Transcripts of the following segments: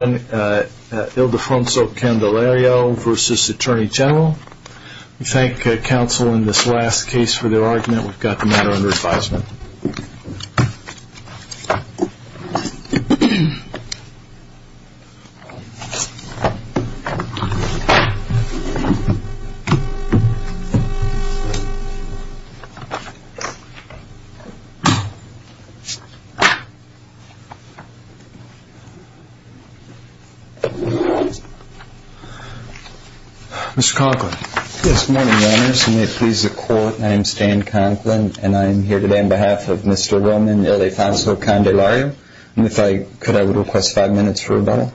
We thank counsel in this last case for their argument. We've got the matter under advisement. Mr. Conklin. Yes, good morning, Your Honors. And may it please the Court, I am Stan Conklin, and I am here today on behalf of Mr. Roman Ildefonso Candelario. And if I could, I would request five minutes for rebuttal.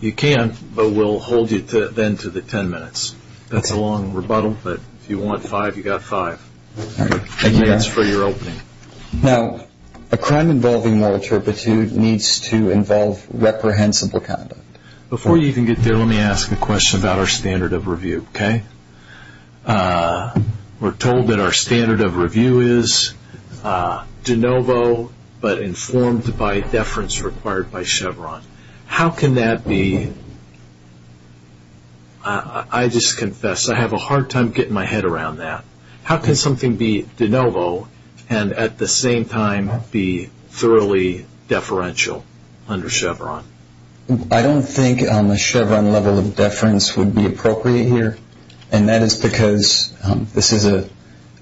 You can, but we'll hold you then to the ten minutes. That's a long rebuttal, but if you want five, you've got five. Thank you, Your Honor. And that's for your opening. Now, a crime involving moral turpitude needs to involve reprehensible conduct. Before you even get there, let me ask a question about our standard of review, okay? We're told that our standard of review is de novo, but informed by deference required by Chevron. How can that be? I just confess, I have a hard time getting my head around that. How can something be de novo and at the same time be thoroughly deferential under Chevron? I don't think a Chevron level of deference would be appropriate here. And that is because this is an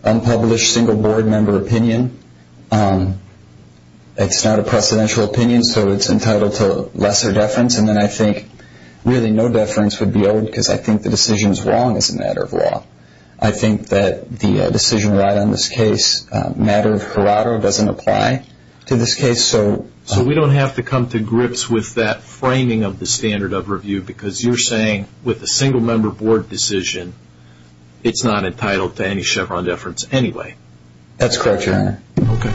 unpublished single board member opinion. It's not a precedential opinion, so it's entitled to lesser deference. And then I think really no deference would be owed because I think the decision is wrong as a matter of law. I think that the decision right on this case, matter of curado, doesn't apply to this case. So we don't have to come to grips with that framing of the standard of review because you're saying with a single member board decision, it's not entitled to any Chevron deference anyway. That's correct, Your Honor. Okay.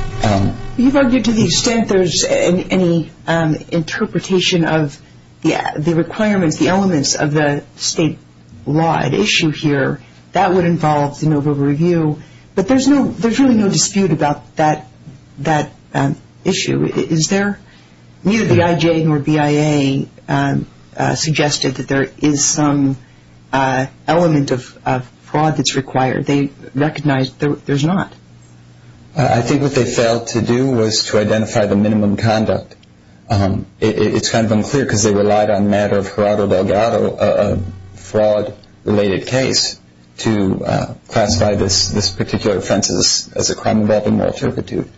You've argued to the extent there's any interpretation of the requirements, the elements of the state law at issue here, that would involve de novo review. But there's really no dispute about that issue, is there? Neither the IJ nor BIA suggested that there is some element of fraud that's required. They recognize there's not. I think what they failed to do was to identify the minimum conduct. It's kind of unclear because they relied on the matter of curado delgado, a fraud-related case, to classify this particular offense as a crime involving moral turpitude.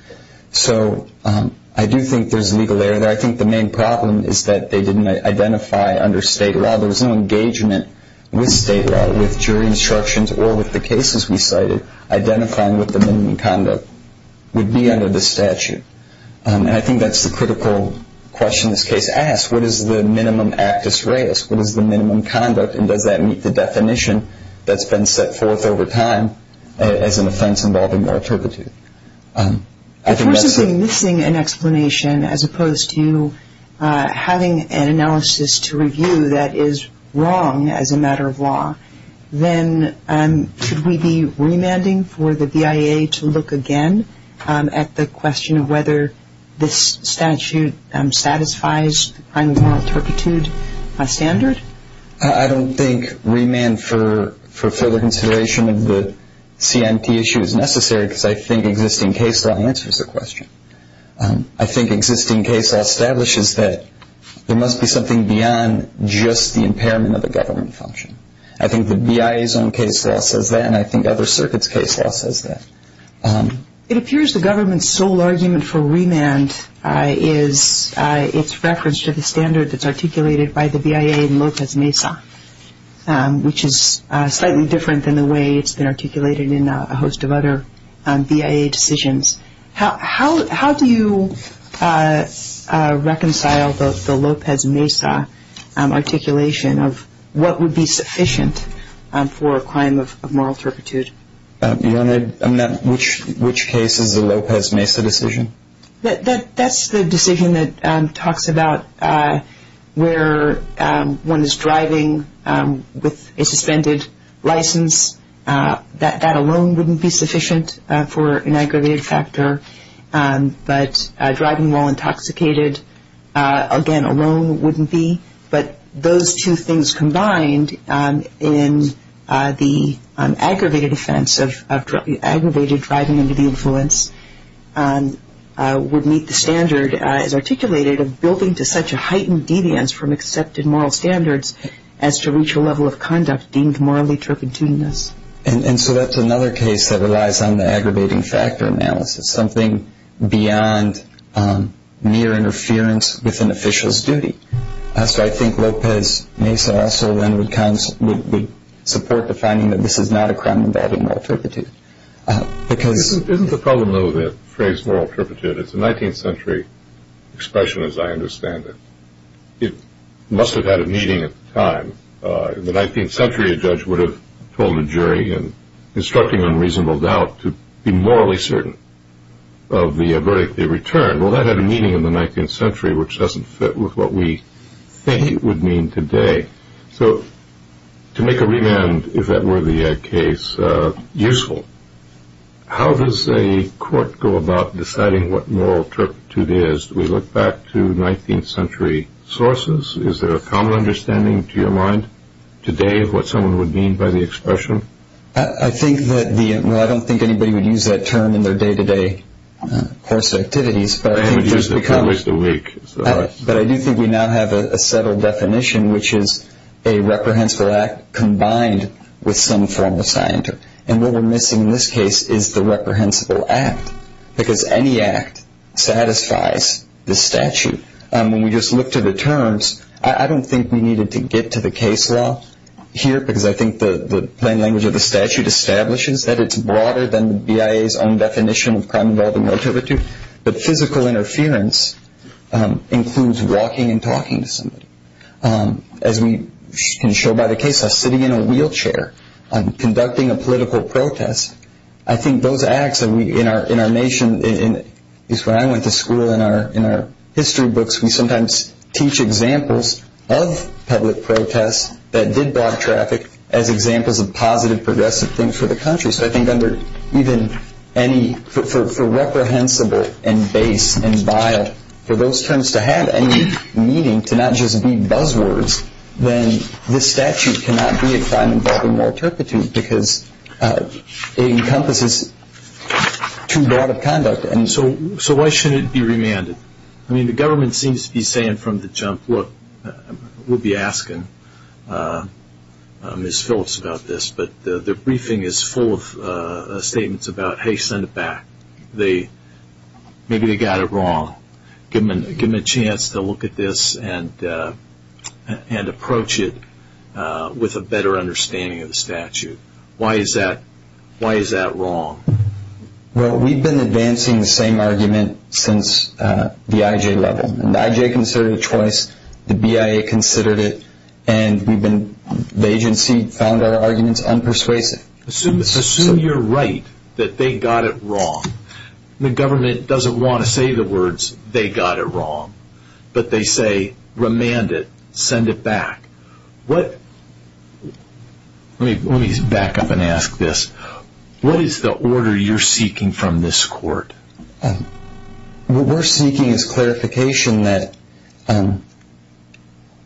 So I do think there's legal error there. I think the main problem is that they didn't identify under state law. There was no engagement with state law, with jury instructions, or with the cases we cited, identifying what the minimum conduct would be under the statute. And I think that's the critical question this case asks. What is the minimum actus reus? What is the minimum conduct? And does that meet the definition that's been set forth over time as an offense involving moral turpitude? If we're simply missing an explanation as opposed to having an analysis to review that is wrong as a matter of law, then should we be remanding for the BIA to look again at the question of whether this statute satisfies the crime of moral turpitude standard? I don't think remand for further consideration of the CNT issue is necessary because I think existing case law answers the question. I think existing case law establishes that there must be something beyond just the impairment of the government function. I think the BIA's own case law says that, and I think other circuits' case law says that. It appears the government's sole argument for remand is its reference to the standard that's articulated by the BIA in Lopez Mesa, which is slightly different than the way it's been articulated in a host of other BIA decisions. How do you reconcile the Lopez Mesa articulation of what would be sufficient for a crime of moral turpitude? Which case is the Lopez Mesa decision? That's the decision that talks about where one is driving with a suspended license. That alone wouldn't be sufficient for an aggravated factor. But driving while intoxicated, again, alone wouldn't be. But those two things combined in the aggravated offense of aggravated driving under the influence would meet the standard, as articulated, of building to such a heightened deviance from accepted moral standards as to reach a level of conduct deemed morally turpitudinous. And so that's another case that relies on the aggravating factor analysis, something beyond mere interference with an official's duty. So I think Lopez Mesa also then would support the finding that this is not a crime involving moral turpitude. Isn't the problem, though, with the phrase moral turpitude? It's a 19th century expression, as I understand it. It must have had a meaning at the time. In the 19th century, a judge would have told a jury, instructing on reasonable doubt, to be morally certain of the verdict they returned. Well, that had a meaning in the 19th century, which doesn't fit with what we think it would mean today. So to make a remand, if that were the case, useful, how does a court go about deciding what moral turpitude is? We look back to 19th century sources. Is there a common understanding to your mind today of what someone would mean by the expression? I think that the—well, I don't think anybody would use that term in their day-to-day course activities, but I think it just becomes— They would use it if it was the week. But I do think we now have a settled definition, which is a reprehensible act combined with some form of scientific. And what we're missing in this case is the reprehensible act, because any act satisfies the statute. When we just look to the terms, I don't think we needed to get to the case law here, because I think the plain language of the statute establishes that it's broader than the BIA's own definition of crime involving moral turpitude. But physical interference includes walking and talking to somebody. As we can show by the case law, sitting in a wheelchair, conducting a political protest, I think those acts in our nation, at least when I went to school, in our history books, we sometimes teach examples of public protests that did block traffic as examples of positive, progressive things for the country. So I think under even any—for reprehensible and base and BIA, for those terms to have any meaning, to not just be buzzwords, then this statute cannot be a crime involving moral turpitude, because it encompasses too broad of conduct. So why shouldn't it be remanded? I mean, the government seems to be saying from the jump, look, we'll be asking Ms. Phillips about this, but the briefing is full of statements about, hey, send it back. Maybe they got it wrong. Give them a chance to look at this and approach it with a better understanding of the statute. Why is that wrong? Well, we've been advancing the same argument since the IJ level, and the IJ considered it twice, the BIA considered it, and the agency found our arguments unpersuasive. Assume you're right, that they got it wrong. The government doesn't want to say the words they got it wrong, but they say remand it, send it back. Let me back up and ask this. What is the order you're seeking from this court? What we're seeking is clarification that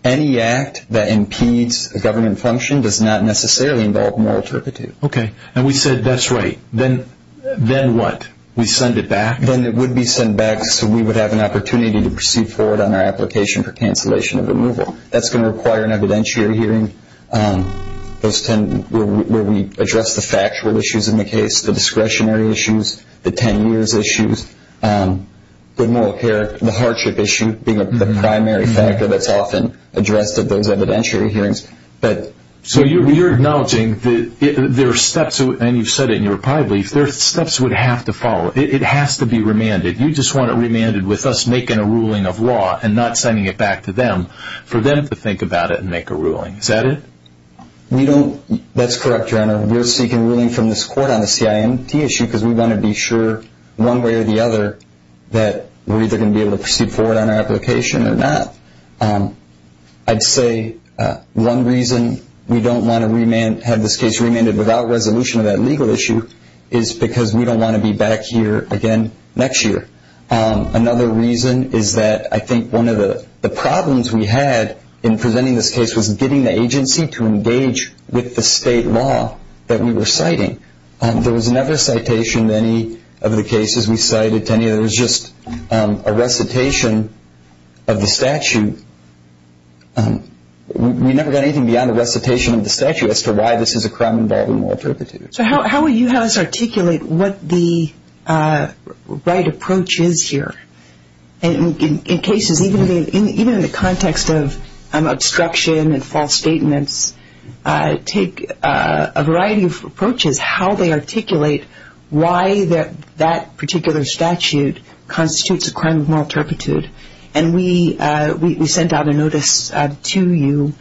any act that impedes a government function does not necessarily involve moral turpitude. Okay, and we said that's right. Then what? We send it back? Then it would be sent back so we would have an opportunity to proceed forward on our application for cancellation of removal. That's going to require an evidentiary hearing where we address the factual issues in the case, the discretionary issues, the 10 years issues, the moral character, the hardship issue, being the primary factor that's often addressed at those evidentiary hearings. So you're acknowledging that there are steps, and you've said it in your reply brief, there are steps that would have to follow. It has to be remanded. You just want it remanded with us making a ruling of law and not sending it back to them for them to think about it and make a ruling. Is that it? That's correct, Your Honor. We're seeking ruling from this court on the CIMT issue because we want to be sure, one way or the other, that we're either going to be able to proceed forward on our application or not. I'd say one reason we don't want to have this case remanded without resolution of that legal issue is because we don't want to be back here again next year. Another reason is that I think one of the problems we had in presenting this case was getting the agency to engage with the state law that we were citing. There was never a citation of any of the cases we cited. There was just a recitation of the statute. We never got anything beyond the recitation of the statute as to why this is a crime involving moral turpitude. So how will you have us articulate what the right approach is here? In cases, even in the context of obstruction and false statements, take a variety of approaches how they articulate why that particular statute constitutes a crime of moral turpitude. And we sent out a notice to you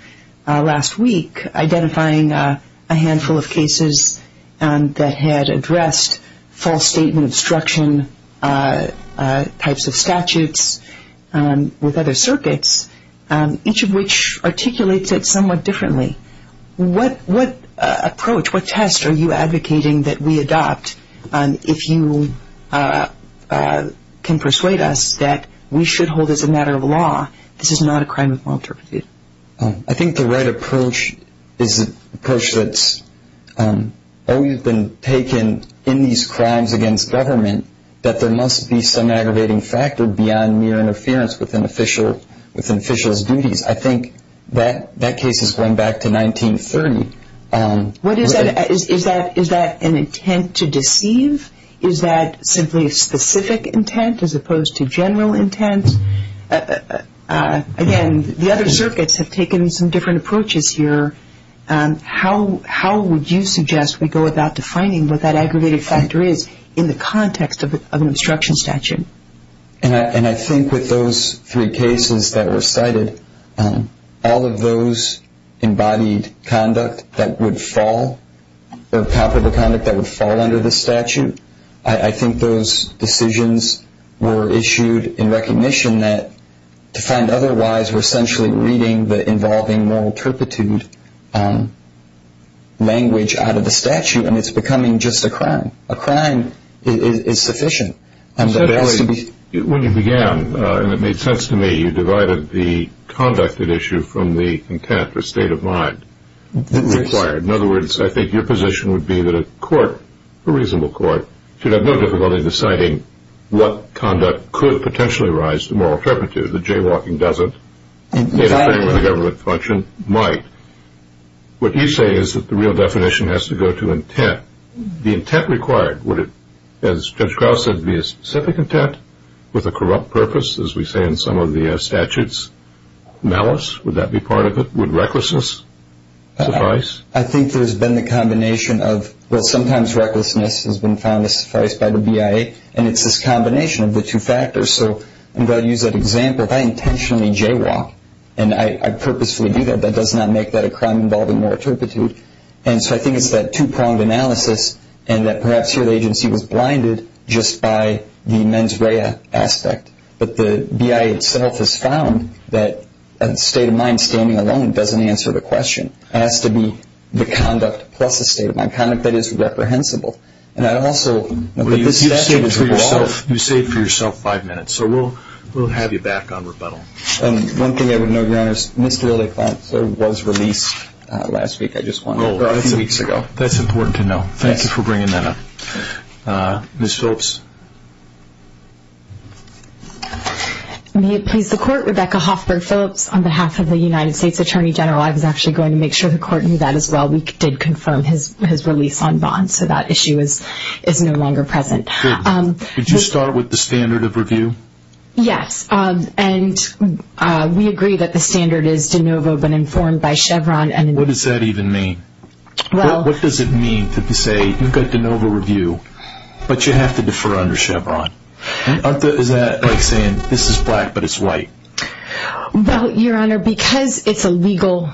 last week identifying a handful of cases that had addressed false statement obstruction types of statutes with other circuits, each of which articulates it somewhat differently. What approach, what test are you advocating that we adopt if you can persuade us that we should hold as a matter of law this is not a crime of moral turpitude? I think the right approach is an approach that's always been taken in these crimes against government that there must be some aggravating factor beyond mere interference with an official's duties. I think that case is going back to 1930. Is that an intent to deceive? Is that simply a specific intent as opposed to general intent? Again, the other circuits have taken some different approaches here. How would you suggest we go about defining what that aggravating factor is in the context of an obstruction statute? And I think with those three cases that were cited, all of those embodied conduct that would fall or comparable conduct that would fall under the statute, I think those decisions were issued in recognition that to find otherwise, we're essentially reading the involving moral turpitude language out of the statute, and it's becoming just a crime. A crime is sufficient. When you began, and it made sense to me, you divided the conduct at issue from the intent or state of mind required. In other words, I think your position would be that a court, a reasonable court, should have no difficulty deciding what conduct could potentially rise to moral turpitude. The jaywalking doesn't. The government function might. What you say is that the real definition has to go to intent. The intent required, would it, as Judge Krauss said, be a specific intent with a corrupt purpose, as we say in some of the statutes? Malice, would that be part of it? Would recklessness suffice? I think there's been the combination of, well, sometimes recklessness has been found to suffice by the BIA, and it's this combination of the two factors. So I'm going to use that example. If I intentionally jaywalk and I purposefully do that, that does not make that a crime involving moral turpitude. And so I think it's that two-pronged analysis, and that perhaps here the agency was blinded just by the mens rea aspect, but the BIA itself has found that a state of mind standing alone doesn't answer the question. It has to be the conduct plus a state of mind, conduct that is reprehensible. And I'd also – You saved for yourself five minutes, so we'll have you back on rebuttal. One thing I would note, Your Honors, Mr. Lilley-Flint was released last week. I just want to – or a few weeks ago. That's important to know. Thank you for bringing that up. Ms. Phillips? May it please the Court, Rebecca Hoffberg Phillips, on behalf of the United States Attorney General. I was actually going to make sure the Court knew that as well. We did confirm his release on bond, so that issue is no longer present. Good. Did you start with the standard of review? Yes, and we agree that the standard is de novo but informed by Chevron. What does that even mean? What does it mean to say you've got de novo review but you have to defer under Chevron? Is that like saying this is black but it's white? Well, Your Honor, because it's a legal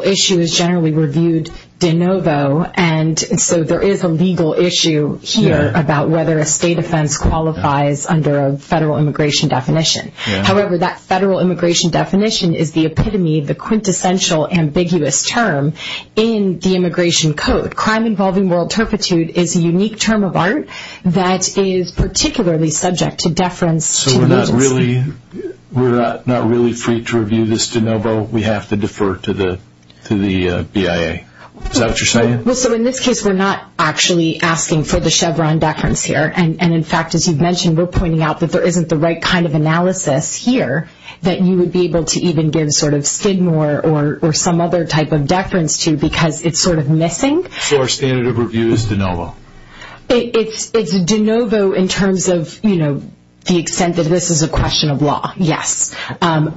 issue, it's generally reviewed de novo, and so there is a legal issue here about whether a state offense qualifies under a federal immigration definition. However, that federal immigration definition is the epitome, the quintessential ambiguous term in the immigration code. Crime involving moral turpitude is a unique term of art that is particularly subject to deference to the agency. So we're not really free to review this de novo? We have to defer to the BIA? Is that what you're saying? Well, so in this case, we're not actually asking for the Chevron deference here. And, in fact, as you've mentioned, we're pointing out that there isn't the right kind of analysis here that you would be able to even give sort of Skidmore or some other type of deference to because it's sort of missing. So our standard of review is de novo? It's de novo in terms of the extent that this is a question of law, yes. Well,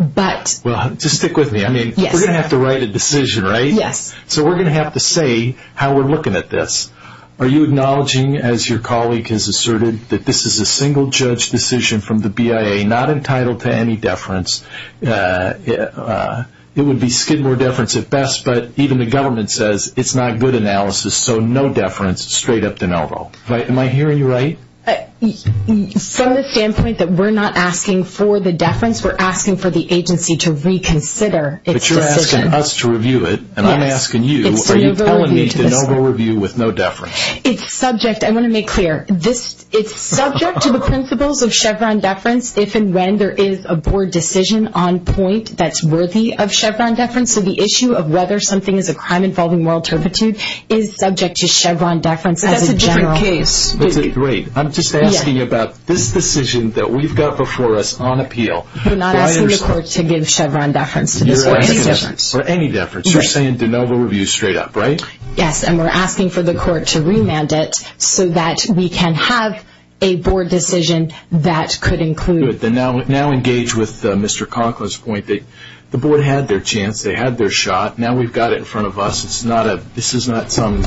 just stick with me. I mean, we're going to have to write a decision, right? Yes. So we're going to have to say how we're looking at this. Are you acknowledging, as your colleague has asserted, that this is a single-judge decision from the BIA, not entitled to any deference? It would be Skidmore deference at best, but even the government says it's not good analysis, so no deference, straight up de novo. Am I hearing you right? From the standpoint that we're not asking for the deference, we're asking for the agency to reconsider its decision. But you're asking us to review it, and I'm asking you, are you telling me de novo review with no deference? It's subject. I want to make clear. It's subject to the principles of Chevron deference if and when there is a board decision on point that's worthy of Chevron deference. So the issue of whether something is a crime involving moral turpitude is subject to Chevron deference as a general. But that's a different case. That's a great. I'm just asking about this decision that we've got before us on appeal. We're not asking the court to give Chevron deference to this or any deference. For any deference. You're saying de novo review straight up, right? Yes, and we're asking for the court to remand it so that we can have a board decision that could include. Now engage with Mr. Conklin's point that the board had their chance. They had their shot. Now we've got it in front of us. This is not some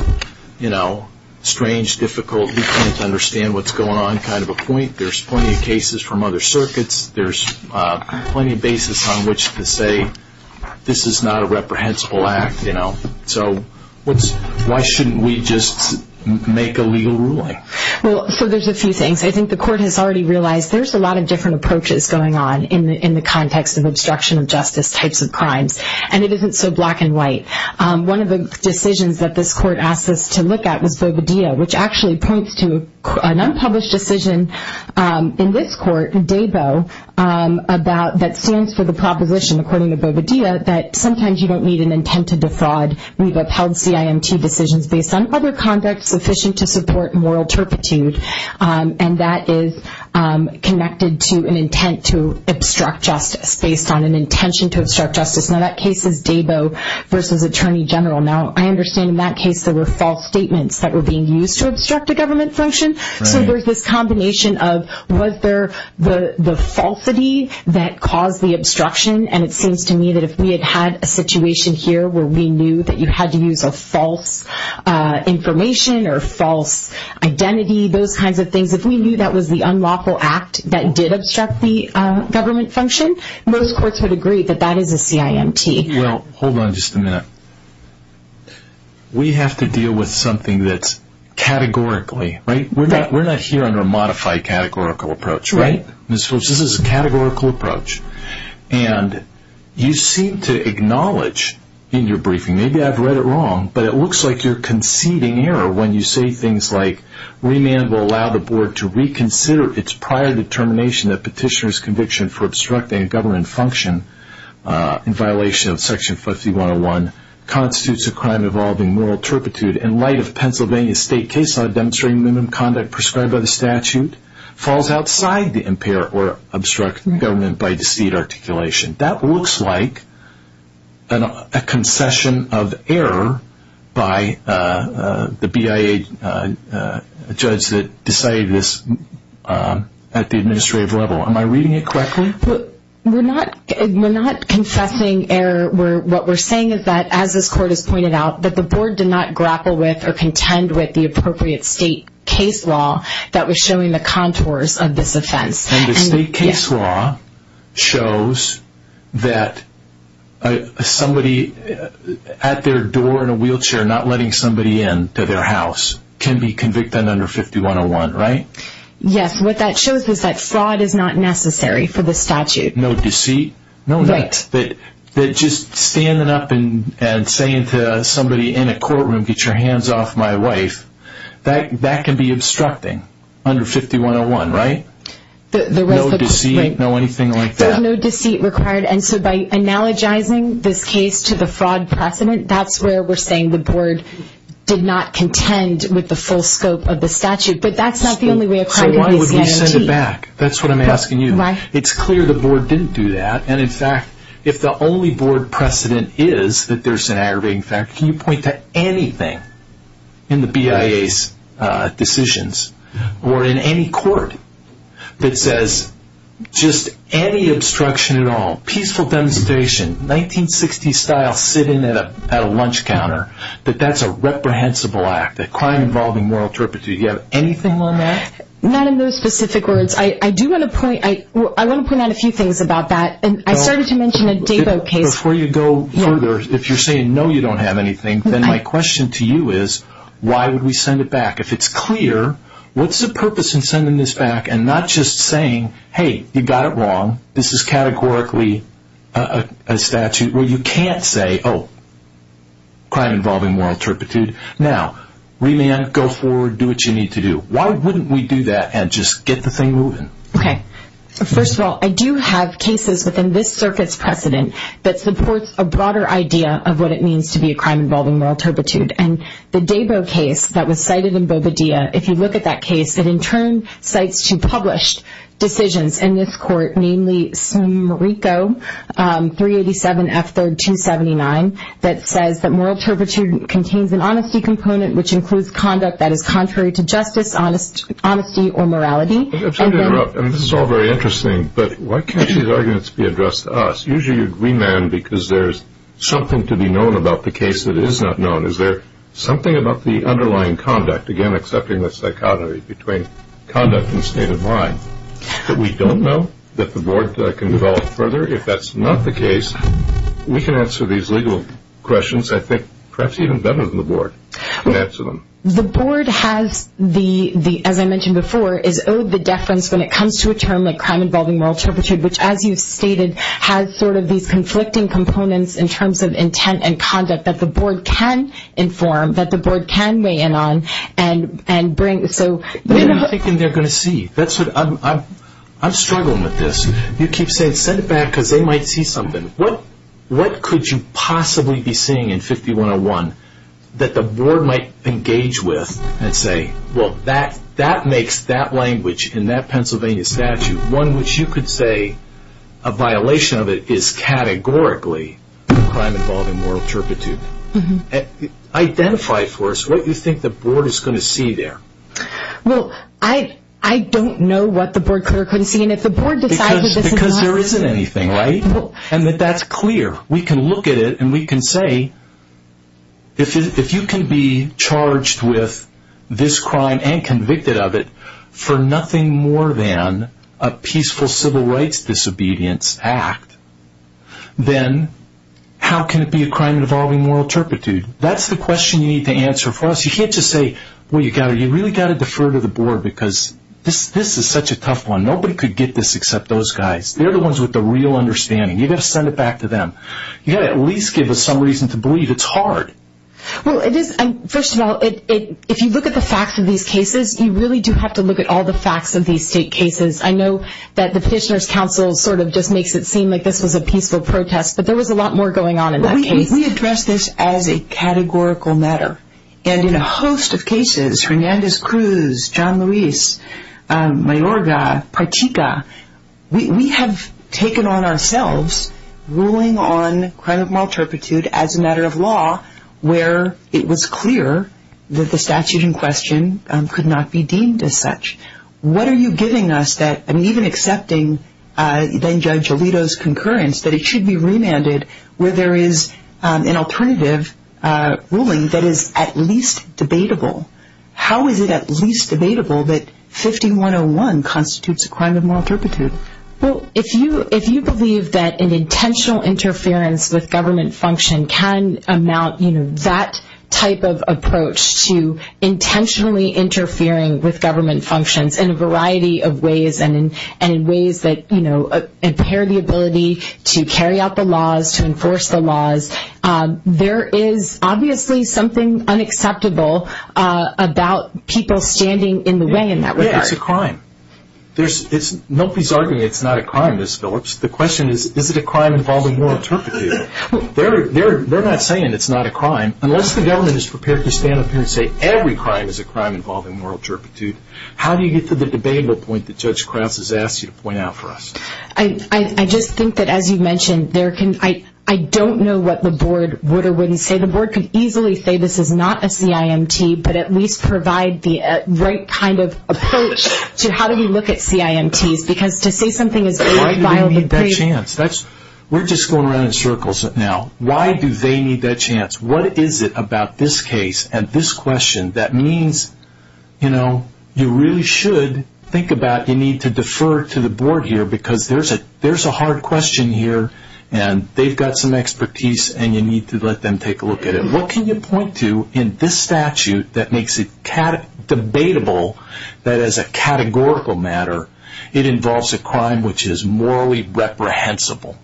strange, difficult, you can't understand what's going on kind of a point. There's plenty of cases from other circuits. There's plenty of basis on which to say this is not a reprehensible act. So why shouldn't we just make a legal ruling? Well, so there's a few things. I think the court has already realized there's a lot of different approaches going on in the context of obstruction of justice types of crimes, and it isn't so black and white. One of the decisions that this court asked us to look at was Boveda, which actually points to an unpublished decision in this court, Debo, that stands for the proposition, according to Boveda, the idea that sometimes you don't need an intent to defraud. We've upheld CIMT decisions based on other conduct sufficient to support moral turpitude, and that is connected to an intent to obstruct justice based on an intention to obstruct justice. Now that case is Debo versus Attorney General. Now I understand in that case there were false statements that were being used to obstruct a government function. So there's this combination of was there the falsity that caused the obstruction, and it seems to me that if we had had a situation here where we knew that you had to use a false information or false identity, those kinds of things, if we knew that was the unlawful act that did obstruct the government function, most courts would agree that that is a CIMT. Well, hold on just a minute. We have to deal with something that's categorically, right? We're not here under a modified categorical approach, right? Ms. Phillips, this is a categorical approach. And you seem to acknowledge in your briefing, maybe I've read it wrong, but it looks like you're conceding error when you say things like, remand will allow the board to reconsider its prior determination that petitioner's conviction for obstructing a government function in violation of Section 5101 constitutes a crime involving moral turpitude in light of Pennsylvania state case law demonstrating minimum conduct prescribed by the statute falls outside the impair or obstruct government by deceit articulation. That looks like a concession of error by the BIA judge that decided this at the administrative level. Am I reading it correctly? We're not confessing error. What we're saying is that, as this court has pointed out, that the board did not grapple with or contend with the appropriate state case law that was showing the contours of this offense. And the state case law shows that somebody at their door in a wheelchair not letting somebody in to their house can be convicted under 5101, right? Yes. What that shows is that fraud is not necessary for this statute. No deceit? No. Right. That just standing up and saying to somebody in a courtroom, get your hands off my wife, that can be obstructing under 5101, right? No deceit, no anything like that? There's no deceit required. And so by analogizing this case to the fraud precedent, that's where we're saying the board did not contend with the full scope of the statute. But that's not the only way a crime can be seen. So why would we send it back? That's what I'm asking you. It's clear the board didn't do that. And, in fact, if the only board precedent is that there's an aggravating factor, can you point to anything in the BIA's decisions or in any court that says just any obstruction at all, peaceful demonstration, 1960s style, sit in at a lunch counter, that that's a reprehensible act, a crime involving moral turpitude. Do you have anything on that? Not in those specific words. I do want to point out a few things about that. And I started to mention a Davo case. Before you go further, if you're saying no, you don't have anything, then my question to you is why would we send it back? If it's clear, what's the purpose in sending this back and not just saying, hey, you got it wrong, this is categorically a statute where you can't say, oh, crime involving moral turpitude. Now, remand, go forward, do what you need to do. Why wouldn't we do that and just get the thing moving? Okay. First of all, I do have cases within this circuit's precedent that supports a broader idea of what it means to be a crime involving moral turpitude. And the Davo case that was cited in Bobadilla, if you look at that case, it in turn cites two published decisions in this court, namely SMRICO 387F3279, that says that moral turpitude contains an honesty component, which includes conduct that is contrary to justice, honesty, or morality. I'm sorry to interrupt. I mean, this is all very interesting, but why can't these arguments be addressed to us? Usually you'd remand because there's something to be known about the case that is not known. Is there something about the underlying conduct, again, accepting the psychotomy between conduct and state of mind that we don't know, that the board can develop further? If that's not the case, we can answer these legal questions, I think, perhaps even better than the board. The board has, as I mentioned before, is owed the deference when it comes to a term like crime involving moral turpitude, which, as you've stated, has sort of these conflicting components in terms of intent and conduct that the board can inform, that the board can weigh in on and bring. What are you thinking they're going to see? I'm struggling with this. You keep saying send it back because they might see something. What could you possibly be seeing in 5101 that the board might engage with and say, well, that makes that language in that Pennsylvania statute, one which you could say a violation of it is categorically crime involving moral turpitude. Identify for us what you think the board is going to see there. Well, I don't know what the board could or couldn't see. And if the board decides that this is not... Because there isn't anything, right? And that that's clear. We can look at it and we can say, if you can be charged with this crime and convicted of it for nothing more than a peaceful civil rights disobedience act, then how can it be a crime involving moral turpitude? That's the question you need to answer for us. You can't just say, well, you've really got to defer to the board because this is such a tough one. Nobody could get this except those guys. They're the ones with the real understanding. You've got to send it back to them. You've got to at least give us some reason to believe it's hard. Well, it is. First of all, if you look at the facts of these cases, you really do have to look at all the facts of these state cases. I know that the Petitioner's Council sort of just makes it seem like this was a peaceful protest, but there was a lot more going on in that case. We address this as a categorical matter. And in a host of cases, Hernandez-Cruz, John Luis, Mayorga, Partica, we have taken on ourselves ruling on crime of moral turpitude as a matter of law where it was clear that the statute in question could not be deemed as such. What are you giving us that even accepting then-Judge Alito's concurrence that it should be remanded where there is an alternative ruling that is at least debatable? How is it at least debatable that 5101 constitutes a crime of moral turpitude? Well, if you believe that an intentional interference with government function can amount, you know, that type of approach to intentionally interfering with government functions in a variety of ways and in ways that impair the ability to carry out the laws, to enforce the laws, there is obviously something unacceptable about people standing in the way in that regard. Yeah, it's a crime. Nobody's arguing it's not a crime, Ms. Phillips. The question is, is it a crime involving moral turpitude? They're not saying it's not a crime. Unless the government is prepared to stand up here and say every crime is a crime involving moral turpitude, how do you get to the debatable point that Judge Krause has asked you to point out for us? I just think that, as you mentioned, I don't know what the board would or wouldn't say. The board could easily say this is not a CIMT, but at least provide the right kind of approach to how do we look at CIMTs because to say something is more vile than crazy. Why do they need that chance? We're just going around in circles now. Why do they need that chance? What is it about this case and this question that means, you know, you really should think about you need to defer to the board here because there's a hard question here and they've got some expertise and you need to let them take a look at it. What can you point to in this statute that makes it debatable that as a categorical matter it involves a crime which is morally reprehensible?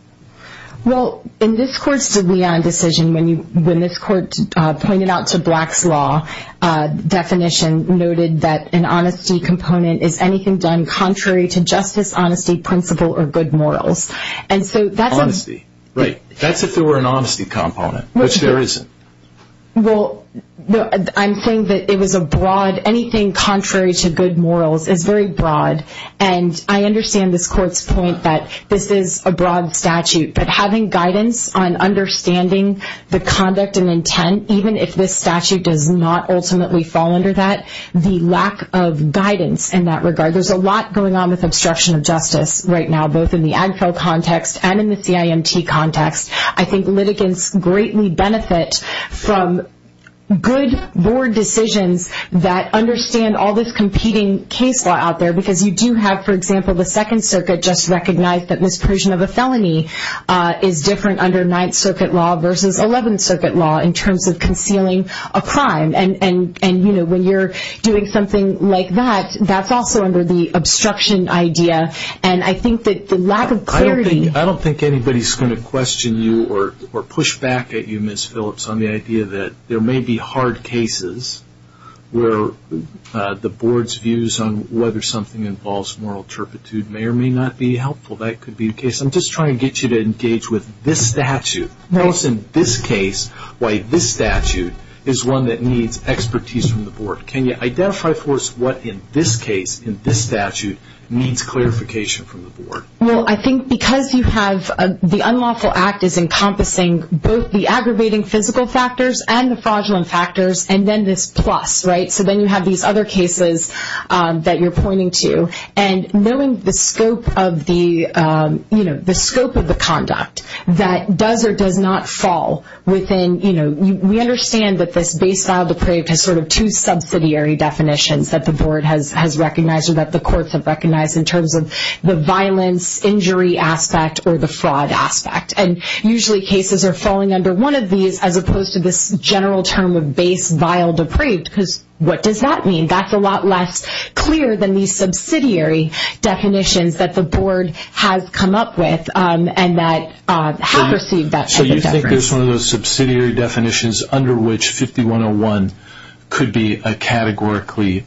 Well, in this court's De Leon decision, when this court pointed out to Black's law definition, noted that an honesty component is anything done contrary to justice, honesty, principle, or good morals. Honesty, right. That's if there were an honesty component, which there isn't. Well, I'm saying that it was a broad, anything contrary to good morals is very broad, and I understand this court's point that this is a broad statute, but having guidance on understanding the conduct and intent, even if this statute does not ultimately fall under that, the lack of guidance in that regard. There's a lot going on with obstruction of justice right now, both in the ADFL context and in the CIMT context. I think litigants greatly benefit from good board decisions that understand all this competing case law out there because you do have, for example, the Second Circuit just recognize that misapprehension of a felony is different under Ninth Circuit law versus Eleventh Circuit law in terms of concealing a crime. And when you're doing something like that, that's also under the obstruction idea, and I think that the lack of clarity. I don't think anybody's going to question you or push back at you, Ms. Phillips, on the idea that there may be hard cases where the board's views on whether something involves moral turpitude may or may not be helpful. That could be the case. I'm just trying to get you to engage with this statute. What's in this case why this statute is one that needs expertise from the board? Can you identify for us what in this case in this statute needs clarification from the board? Well, I think because you have the unlawful act is encompassing both the aggravating physical factors and the fraudulent factors and then this plus, right? So then you have these other cases that you're pointing to. And knowing the scope of the conduct that does or does not fall within, you know, we understand that this base file depraved has sort of two subsidiary definitions that the board has recognized or that the courts have recognized in terms of the violence, injury aspect, or the fraud aspect. And usually cases are falling under one of these as opposed to this general term of base file depraved because what does that mean? That's a lot less clear than these subsidiary definitions that the board has come up with and that have received that type of deference. Here's one of those subsidiary definitions under which 5101 could be categorically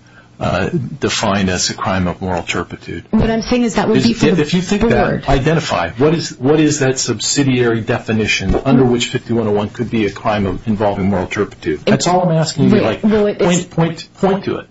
defined as a crime of moral turpitude. What I'm saying is that would be for the board. Identify. What is that subsidiary definition under which 5101 could be a crime involving moral turpitude? That's all I'm asking you. Point to it.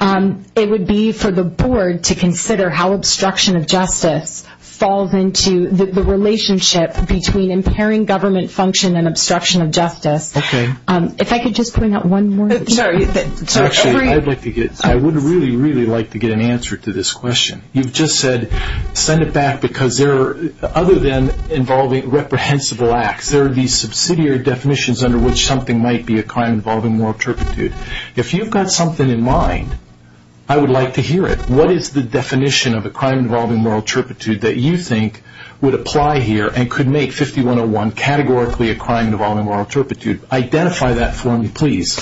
It would be for the board to consider how obstruction of justice falls into the relationship between impairing government function and obstruction of justice. Okay. If I could just point out one more thing. Actually, I would really, really like to get an answer to this question. You've just said send it back because other than involving reprehensible acts, there are these subsidiary definitions under which something might be a crime involving moral turpitude. If you've got something in mind, I would like to hear it. What is the definition of a crime involving moral turpitude that you think would apply here and could make 5101 categorically a crime involving moral turpitude? Identify that for me, please.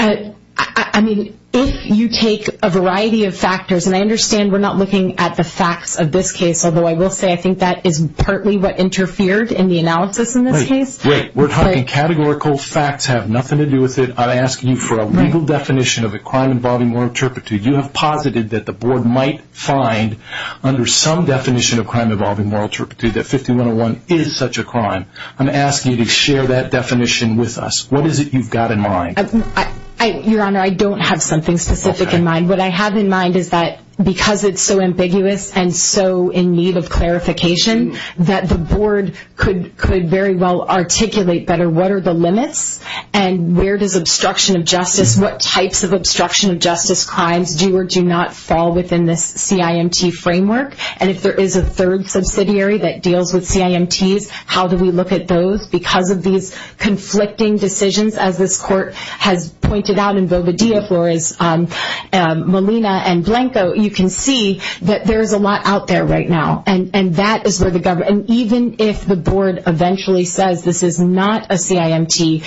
I mean, if you take a variety of factors, and I understand we're not looking at the facts of this case, although I will say I think that is partly what interfered in the analysis in this case. Wait, wait. We're talking categorical facts have nothing to do with it. I'm asking you for a legal definition of a crime involving moral turpitude. You have posited that the board might find under some definition of a crime involving moral turpitude that 5101 is such a crime. I'm asking you to share that definition with us. What is it you've got in mind? Your Honor, I don't have something specific in mind. What I have in mind is that because it's so ambiguous and so in need of clarification, that the board could very well articulate better what are the limits and where does obstruction of justice, what types of obstruction of justice crimes do or do not fall within this CIMT framework, and if there is a third subsidiary that deals with CIMTs, how do we look at those? Because of these conflicting decisions, as this court has pointed out, and Boveda, Flores, Molina, and Blanco, you can see that there is a lot out there right now, and that is where the government, and even if the board eventually says this is not a CIMT,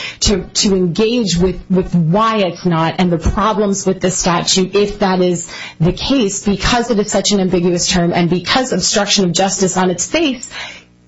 to engage with why it's not and the problems with the statute, if that is the case, because it is such an ambiguous term and because obstruction of justice on its face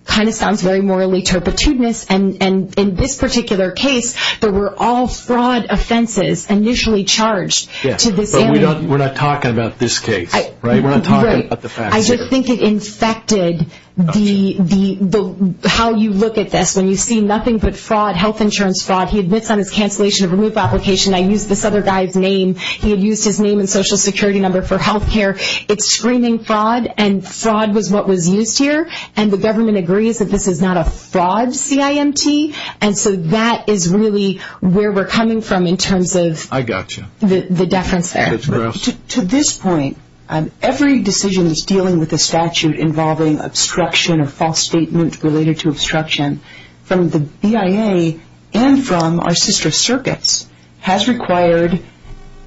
kind of sounds very morally turpitudinous, and in this particular case there were all fraud offenses initially charged to this area. Yes, but we're not talking about this case, right? We're not talking about the facts here. Right. I just think it infected how you look at this. When you see nothing but fraud, health insurance fraud, he admits on his cancellation of removal application, I used this other guy's name, he had used his name and social security number for health care, it's screaming fraud, and fraud was what was used here, and the government agrees that this is not a fraud CIMT, and so that is really where we're coming from in terms of the deference there. I got you. That's gross. To this point, every decision that's dealing with a statute involving obstruction or false statement related to obstruction from the BIA and from our sister circuits has required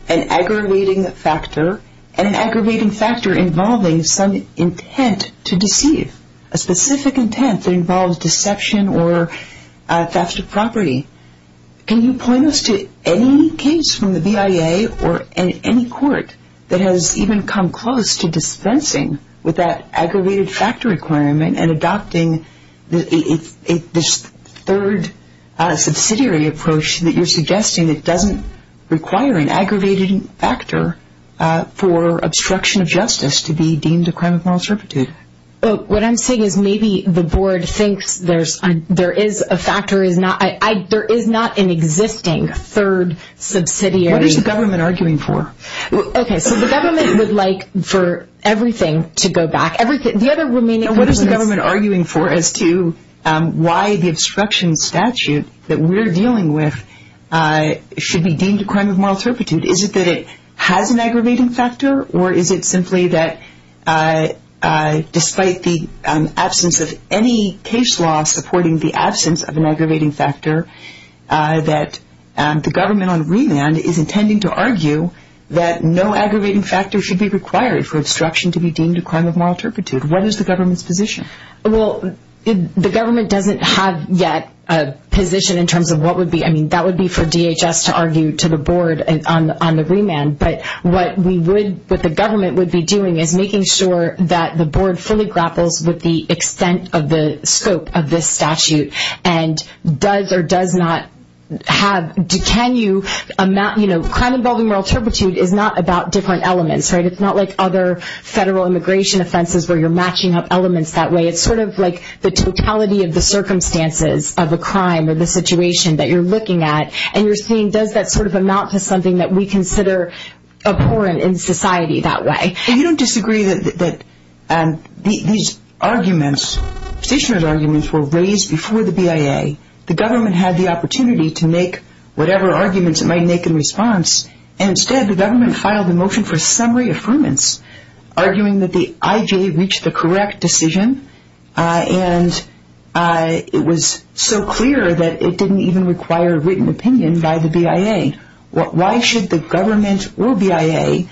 an aggravating factor, and an aggravating factor involving some intent to deceive, a specific intent that involves deception or theft of property. Can you point us to any case from the BIA or any court that has even come close to dispensing with that aggravating factor requirement and adopting this third subsidiary approach that you're suggesting that doesn't require an aggravating factor for obstruction of justice to be deemed a crime of moral servitude? What I'm saying is maybe the board thinks there is a factor, there is not an existing third subsidiary. What is the government arguing for? The government would like for everything to go back. What is the government arguing for as to why the obstruction statute that we're dealing with should be deemed a crime of moral servitude? Is it that it has an aggravating factor, or is it simply that despite the absence of any case law supporting the absence of an aggravating factor, that the government on remand is intending to argue that no aggravating factor should be required for obstruction to be deemed a crime of moral servitude? What is the government's position? Well, the government doesn't have yet a position in terms of what would be, I mean, that would be for DHS to argue to the board on the remand, but what we would, what the government would be doing is making sure that the board fully grapples with the extent of the scope of this statute and does or does not have, can you, you know, crime involving moral servitude is not about different elements, right? It's not like other federal immigration offenses where you're matching up elements that way. It's sort of like the totality of the circumstances of a crime or the situation that you're looking at, and you're seeing does that sort of amount to something that we consider abhorrent in society that way. You don't disagree that these arguments, petitioner's arguments were raised before the BIA. The government had the opportunity to make whatever arguments it might make in response, and instead the government filed a motion for summary affirmance arguing that the IJ reached the correct decision, and it was so clear that it didn't even require written opinion by the BIA. Why should the government or BIA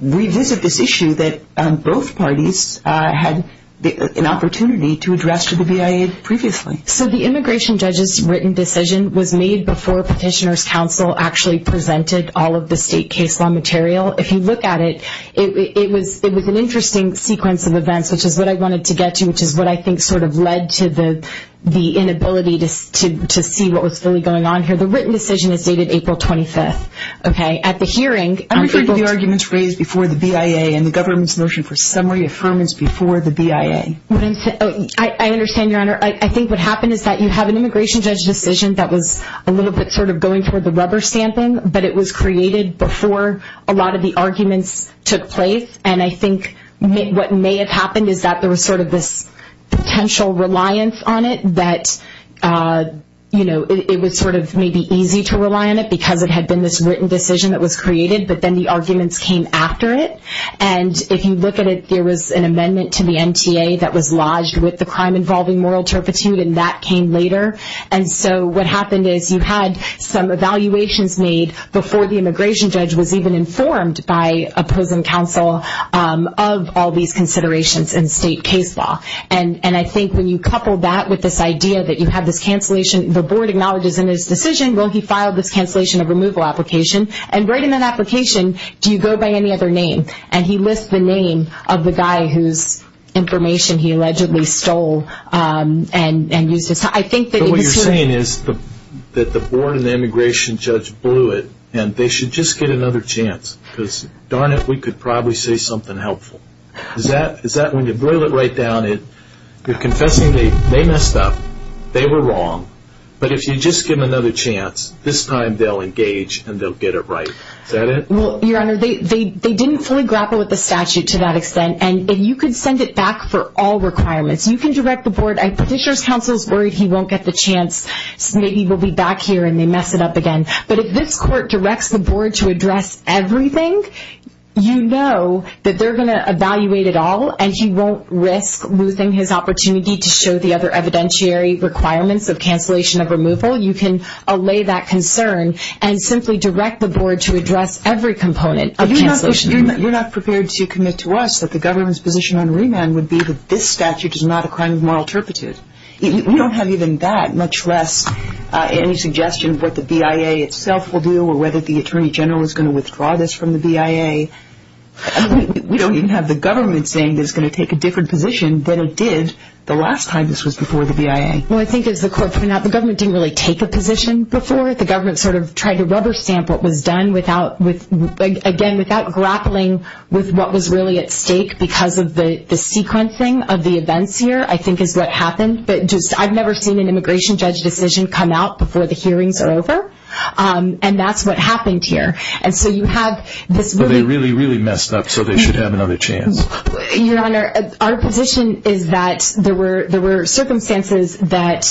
revisit this issue that both parties had an opportunity to address to the BIA previously? So the immigration judge's written decision was made before petitioner's counsel actually presented all of the state case law material. If you look at it, it was an interesting sequence of events, which is what I wanted to get to, which is what I think sort of led to the inability to see what was really going on here. The written decision is dated April 25th, okay? At the hearing... I'm referring to the arguments raised before the BIA and the government's motion for summary affirmance before the BIA. I understand, Your Honor. I think what happened is that you have an immigration judge's decision that was a little bit sort of going for the rubber stamping, but it was created before a lot of the arguments took place, and I think what may have happened is that there was sort of this potential reliance on it that it was sort of maybe easy to rely on it because it had been this written decision that was created, but then the arguments came after it. And if you look at it, there was an amendment to the MTA that was lodged with the crime-involving moral turpitude, and that came later. And so what happened is you had some evaluations made before the immigration judge was even informed by opposing counsel of all these considerations in state case law. And I think when you couple that with this idea that you have this cancellation, the board acknowledges in its decision, well, he filed this cancellation of removal application, and right in that application, do you go by any other name? And he lists the name of the guy whose information he allegedly stole and used. But what you're saying is that the board and the immigration judge blew it, and they should just get another chance, because darn it, we could probably say something helpful. Is that when you boil it right down and you're confessing they messed up, they were wrong, but if you just give them another chance, this time they'll engage and they'll get it right. Is that it? Well, Your Honor, they didn't fully grapple with the statute to that extent, and you could send it back for all requirements. You can direct the board. Petitioner's counsel is worried he won't get the chance, so maybe we'll be back here and they mess it up again. But if this court directs the board to address everything, you know that they're going to evaluate it all, and he won't risk losing his opportunity to show the other evidentiary requirements of cancellation of removal. You can allay that concern and simply direct the board to address every component of cancellation of removal. You're not prepared to commit to us that the government's position on remand would be that this statute is not a crime of moral turpitude. We don't have even that, much less any suggestion of what the BIA itself will do or whether the Attorney General is going to withdraw this from the BIA. We don't even have the government saying that it's going to take a different position than it did the last time this was before the BIA. Well, I think as the court pointed out, the government didn't really take a position before. The government sort of tried to rubber stamp what was done, again, without grappling with what was really at stake because of the sequencing of the events here, I think is what happened. But I've never seen an immigration judge decision come out before the hearings are over, and that's what happened here. And so you have this really... Well, they really, really messed up, so they should have another chance. Your Honor, our position is that there were circumstances that,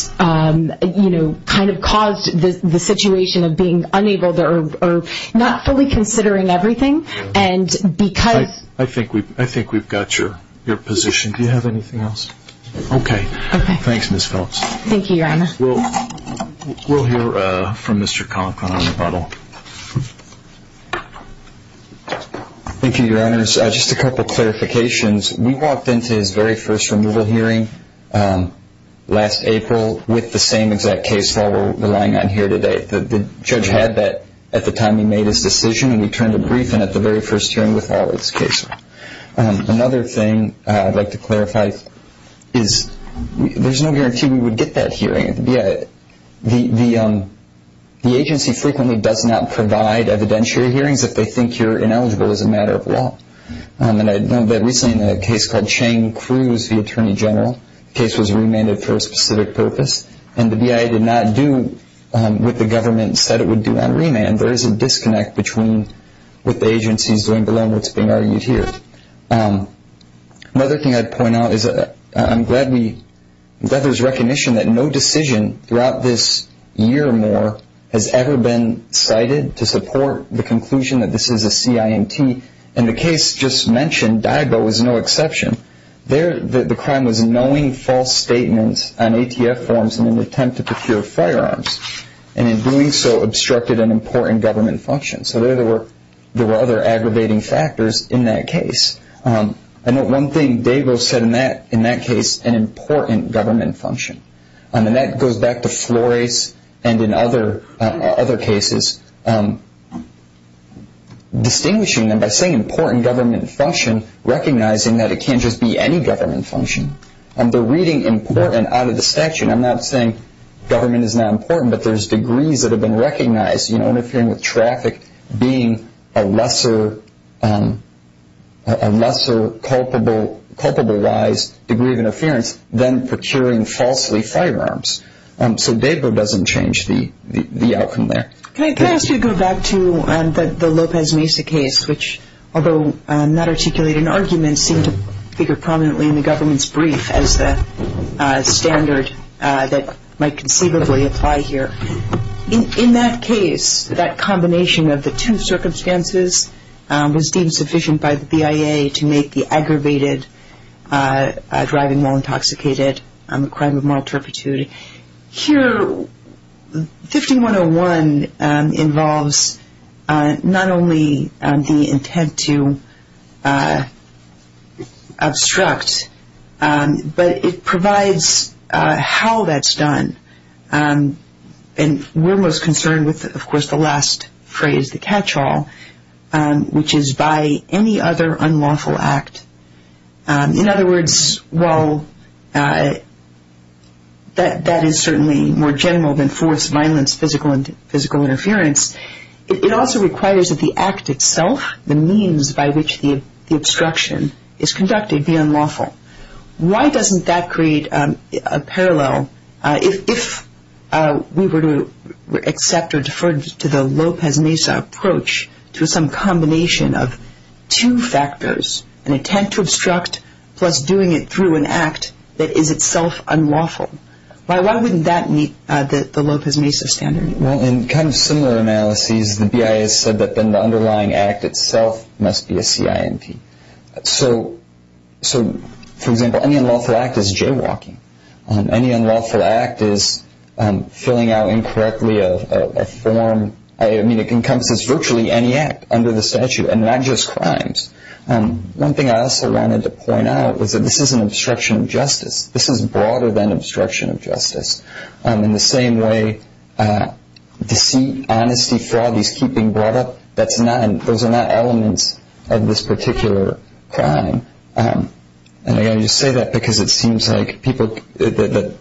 you know, kind of caused the situation of being unable or not fully considering everything, and because... I think we've got your position. Do you have anything else? Okay. Okay. Thanks, Ms. Phillips. Thank you, Your Honor. We'll hear from Mr. Conklin on the bottle. Thank you, Your Honors. Just a couple of clarifications. We walked into his very first removal hearing last April with the same exact case law we're relying on here today. The judge had that at the time he made his decision, and we turned a brief in at the very first hearing with all of his cases. Another thing I'd like to clarify is there's no guarantee we would get that hearing at the BIA. The agency frequently does not provide evidentiary hearings if they think you're ineligible as a matter of law. And I know that recently in a case called Chang-Cruz v. Attorney General, the case was remanded for a specific purpose, and the BIA did not do what the government said it would do on remand. There is a disconnect between what the agency is doing below and what's being argued here. Another thing I'd point out is I'm glad there's recognition that no decision throughout this year or more has ever been cited to support the conclusion that this is a CINT, and the case just mentioned Daigo is no exception. The crime was knowing false statements on ATF forms in an attempt to procure firearms, and in doing so obstructed an important government function. So there were other aggravating factors in that case. I know one thing Daigo said in that case, an important government function. And that goes back to Flores and in other cases, distinguishing them by saying important government function, recognizing that it can't just be any government function. They're reading important out of the statute. And I'm not saying government is not important, but there's degrees that have been recognized. You know, interfering with traffic being a lesser culpable rise degree of interference than procuring falsely firearms. So Daigo doesn't change the outcome there. Can I ask you to go back to the Lopez Mesa case, which although not articulated in argument seemed to figure prominently in the government's brief as the standard that might conceivably apply here. In that case, that combination of the two circumstances was deemed sufficient by the BIA to make the aggravated driving law intoxicated on the crime of moral turpitude. Here, 5101 involves not only the intent to obstruct, but it provides how that's done. And we're most concerned with, of course, the last phrase, the catch-all, which is by any other unlawful act. In other words, while that is certainly more general than force, violence, physical interference, it also requires that the act itself, the means by which the obstruction is conducted, be unlawful. Why doesn't that create a parallel if we were to accept or defer to the Lopez Mesa approach to some combination of two factors, an intent to obstruct plus doing it through an act that is itself unlawful? Why wouldn't that meet the Lopez Mesa standard? Well, in kind of similar analyses, the BIA has said that then the underlying act itself must be a CINP. So, for example, any unlawful act is jaywalking. Any unlawful act is filling out incorrectly a form. I mean, it encompasses virtually any act under the statute, and not just crimes. One thing I also wanted to point out was that this is an obstruction of justice. This is broader than obstruction of justice. In the same way, deceit, honesty, fraud, these keep being brought up, those are not elements of this particular crime. And I say that because it seems like the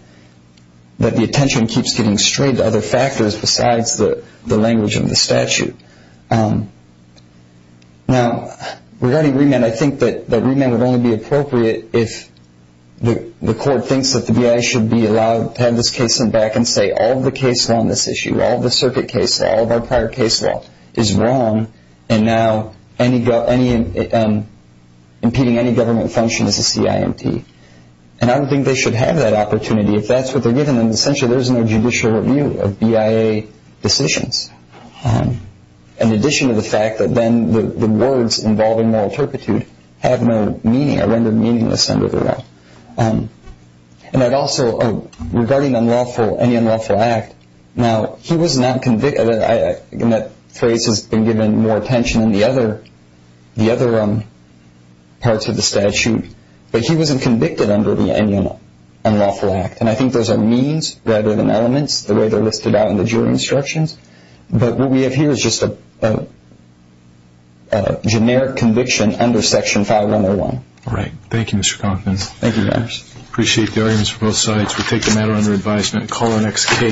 attention keeps getting strayed to other factors besides the language of the statute. Now, regarding remand, I think that remand would only be appropriate if the court thinks that the BIA should be allowed to have this case sent back and say all of the case law on this issue, all of the circuit case law, all of our prior case law is wrong, and now impeding any government function is a CINP. And I don't think they should have that opportunity. If that's what they're given, then essentially there's no judicial review of BIA decisions, in addition to the fact that then the words involving moral turpitude have no meaning, are rendered meaningless under the law. And I'd also, regarding unlawful, any unlawful act, now, he was not convicted, and that phrase has been given more attention in the other parts of the statute, but he wasn't convicted under any unlawful act. And I think those are means rather than elements, the way they're listed out in the jury instructions. But what we have here is just a generic conviction under Section 501. All right. Thank you, Mr. Conklin. Thank you, guys. Appreciate the arguments from both sides. We take the matter under advisement. Call our next case.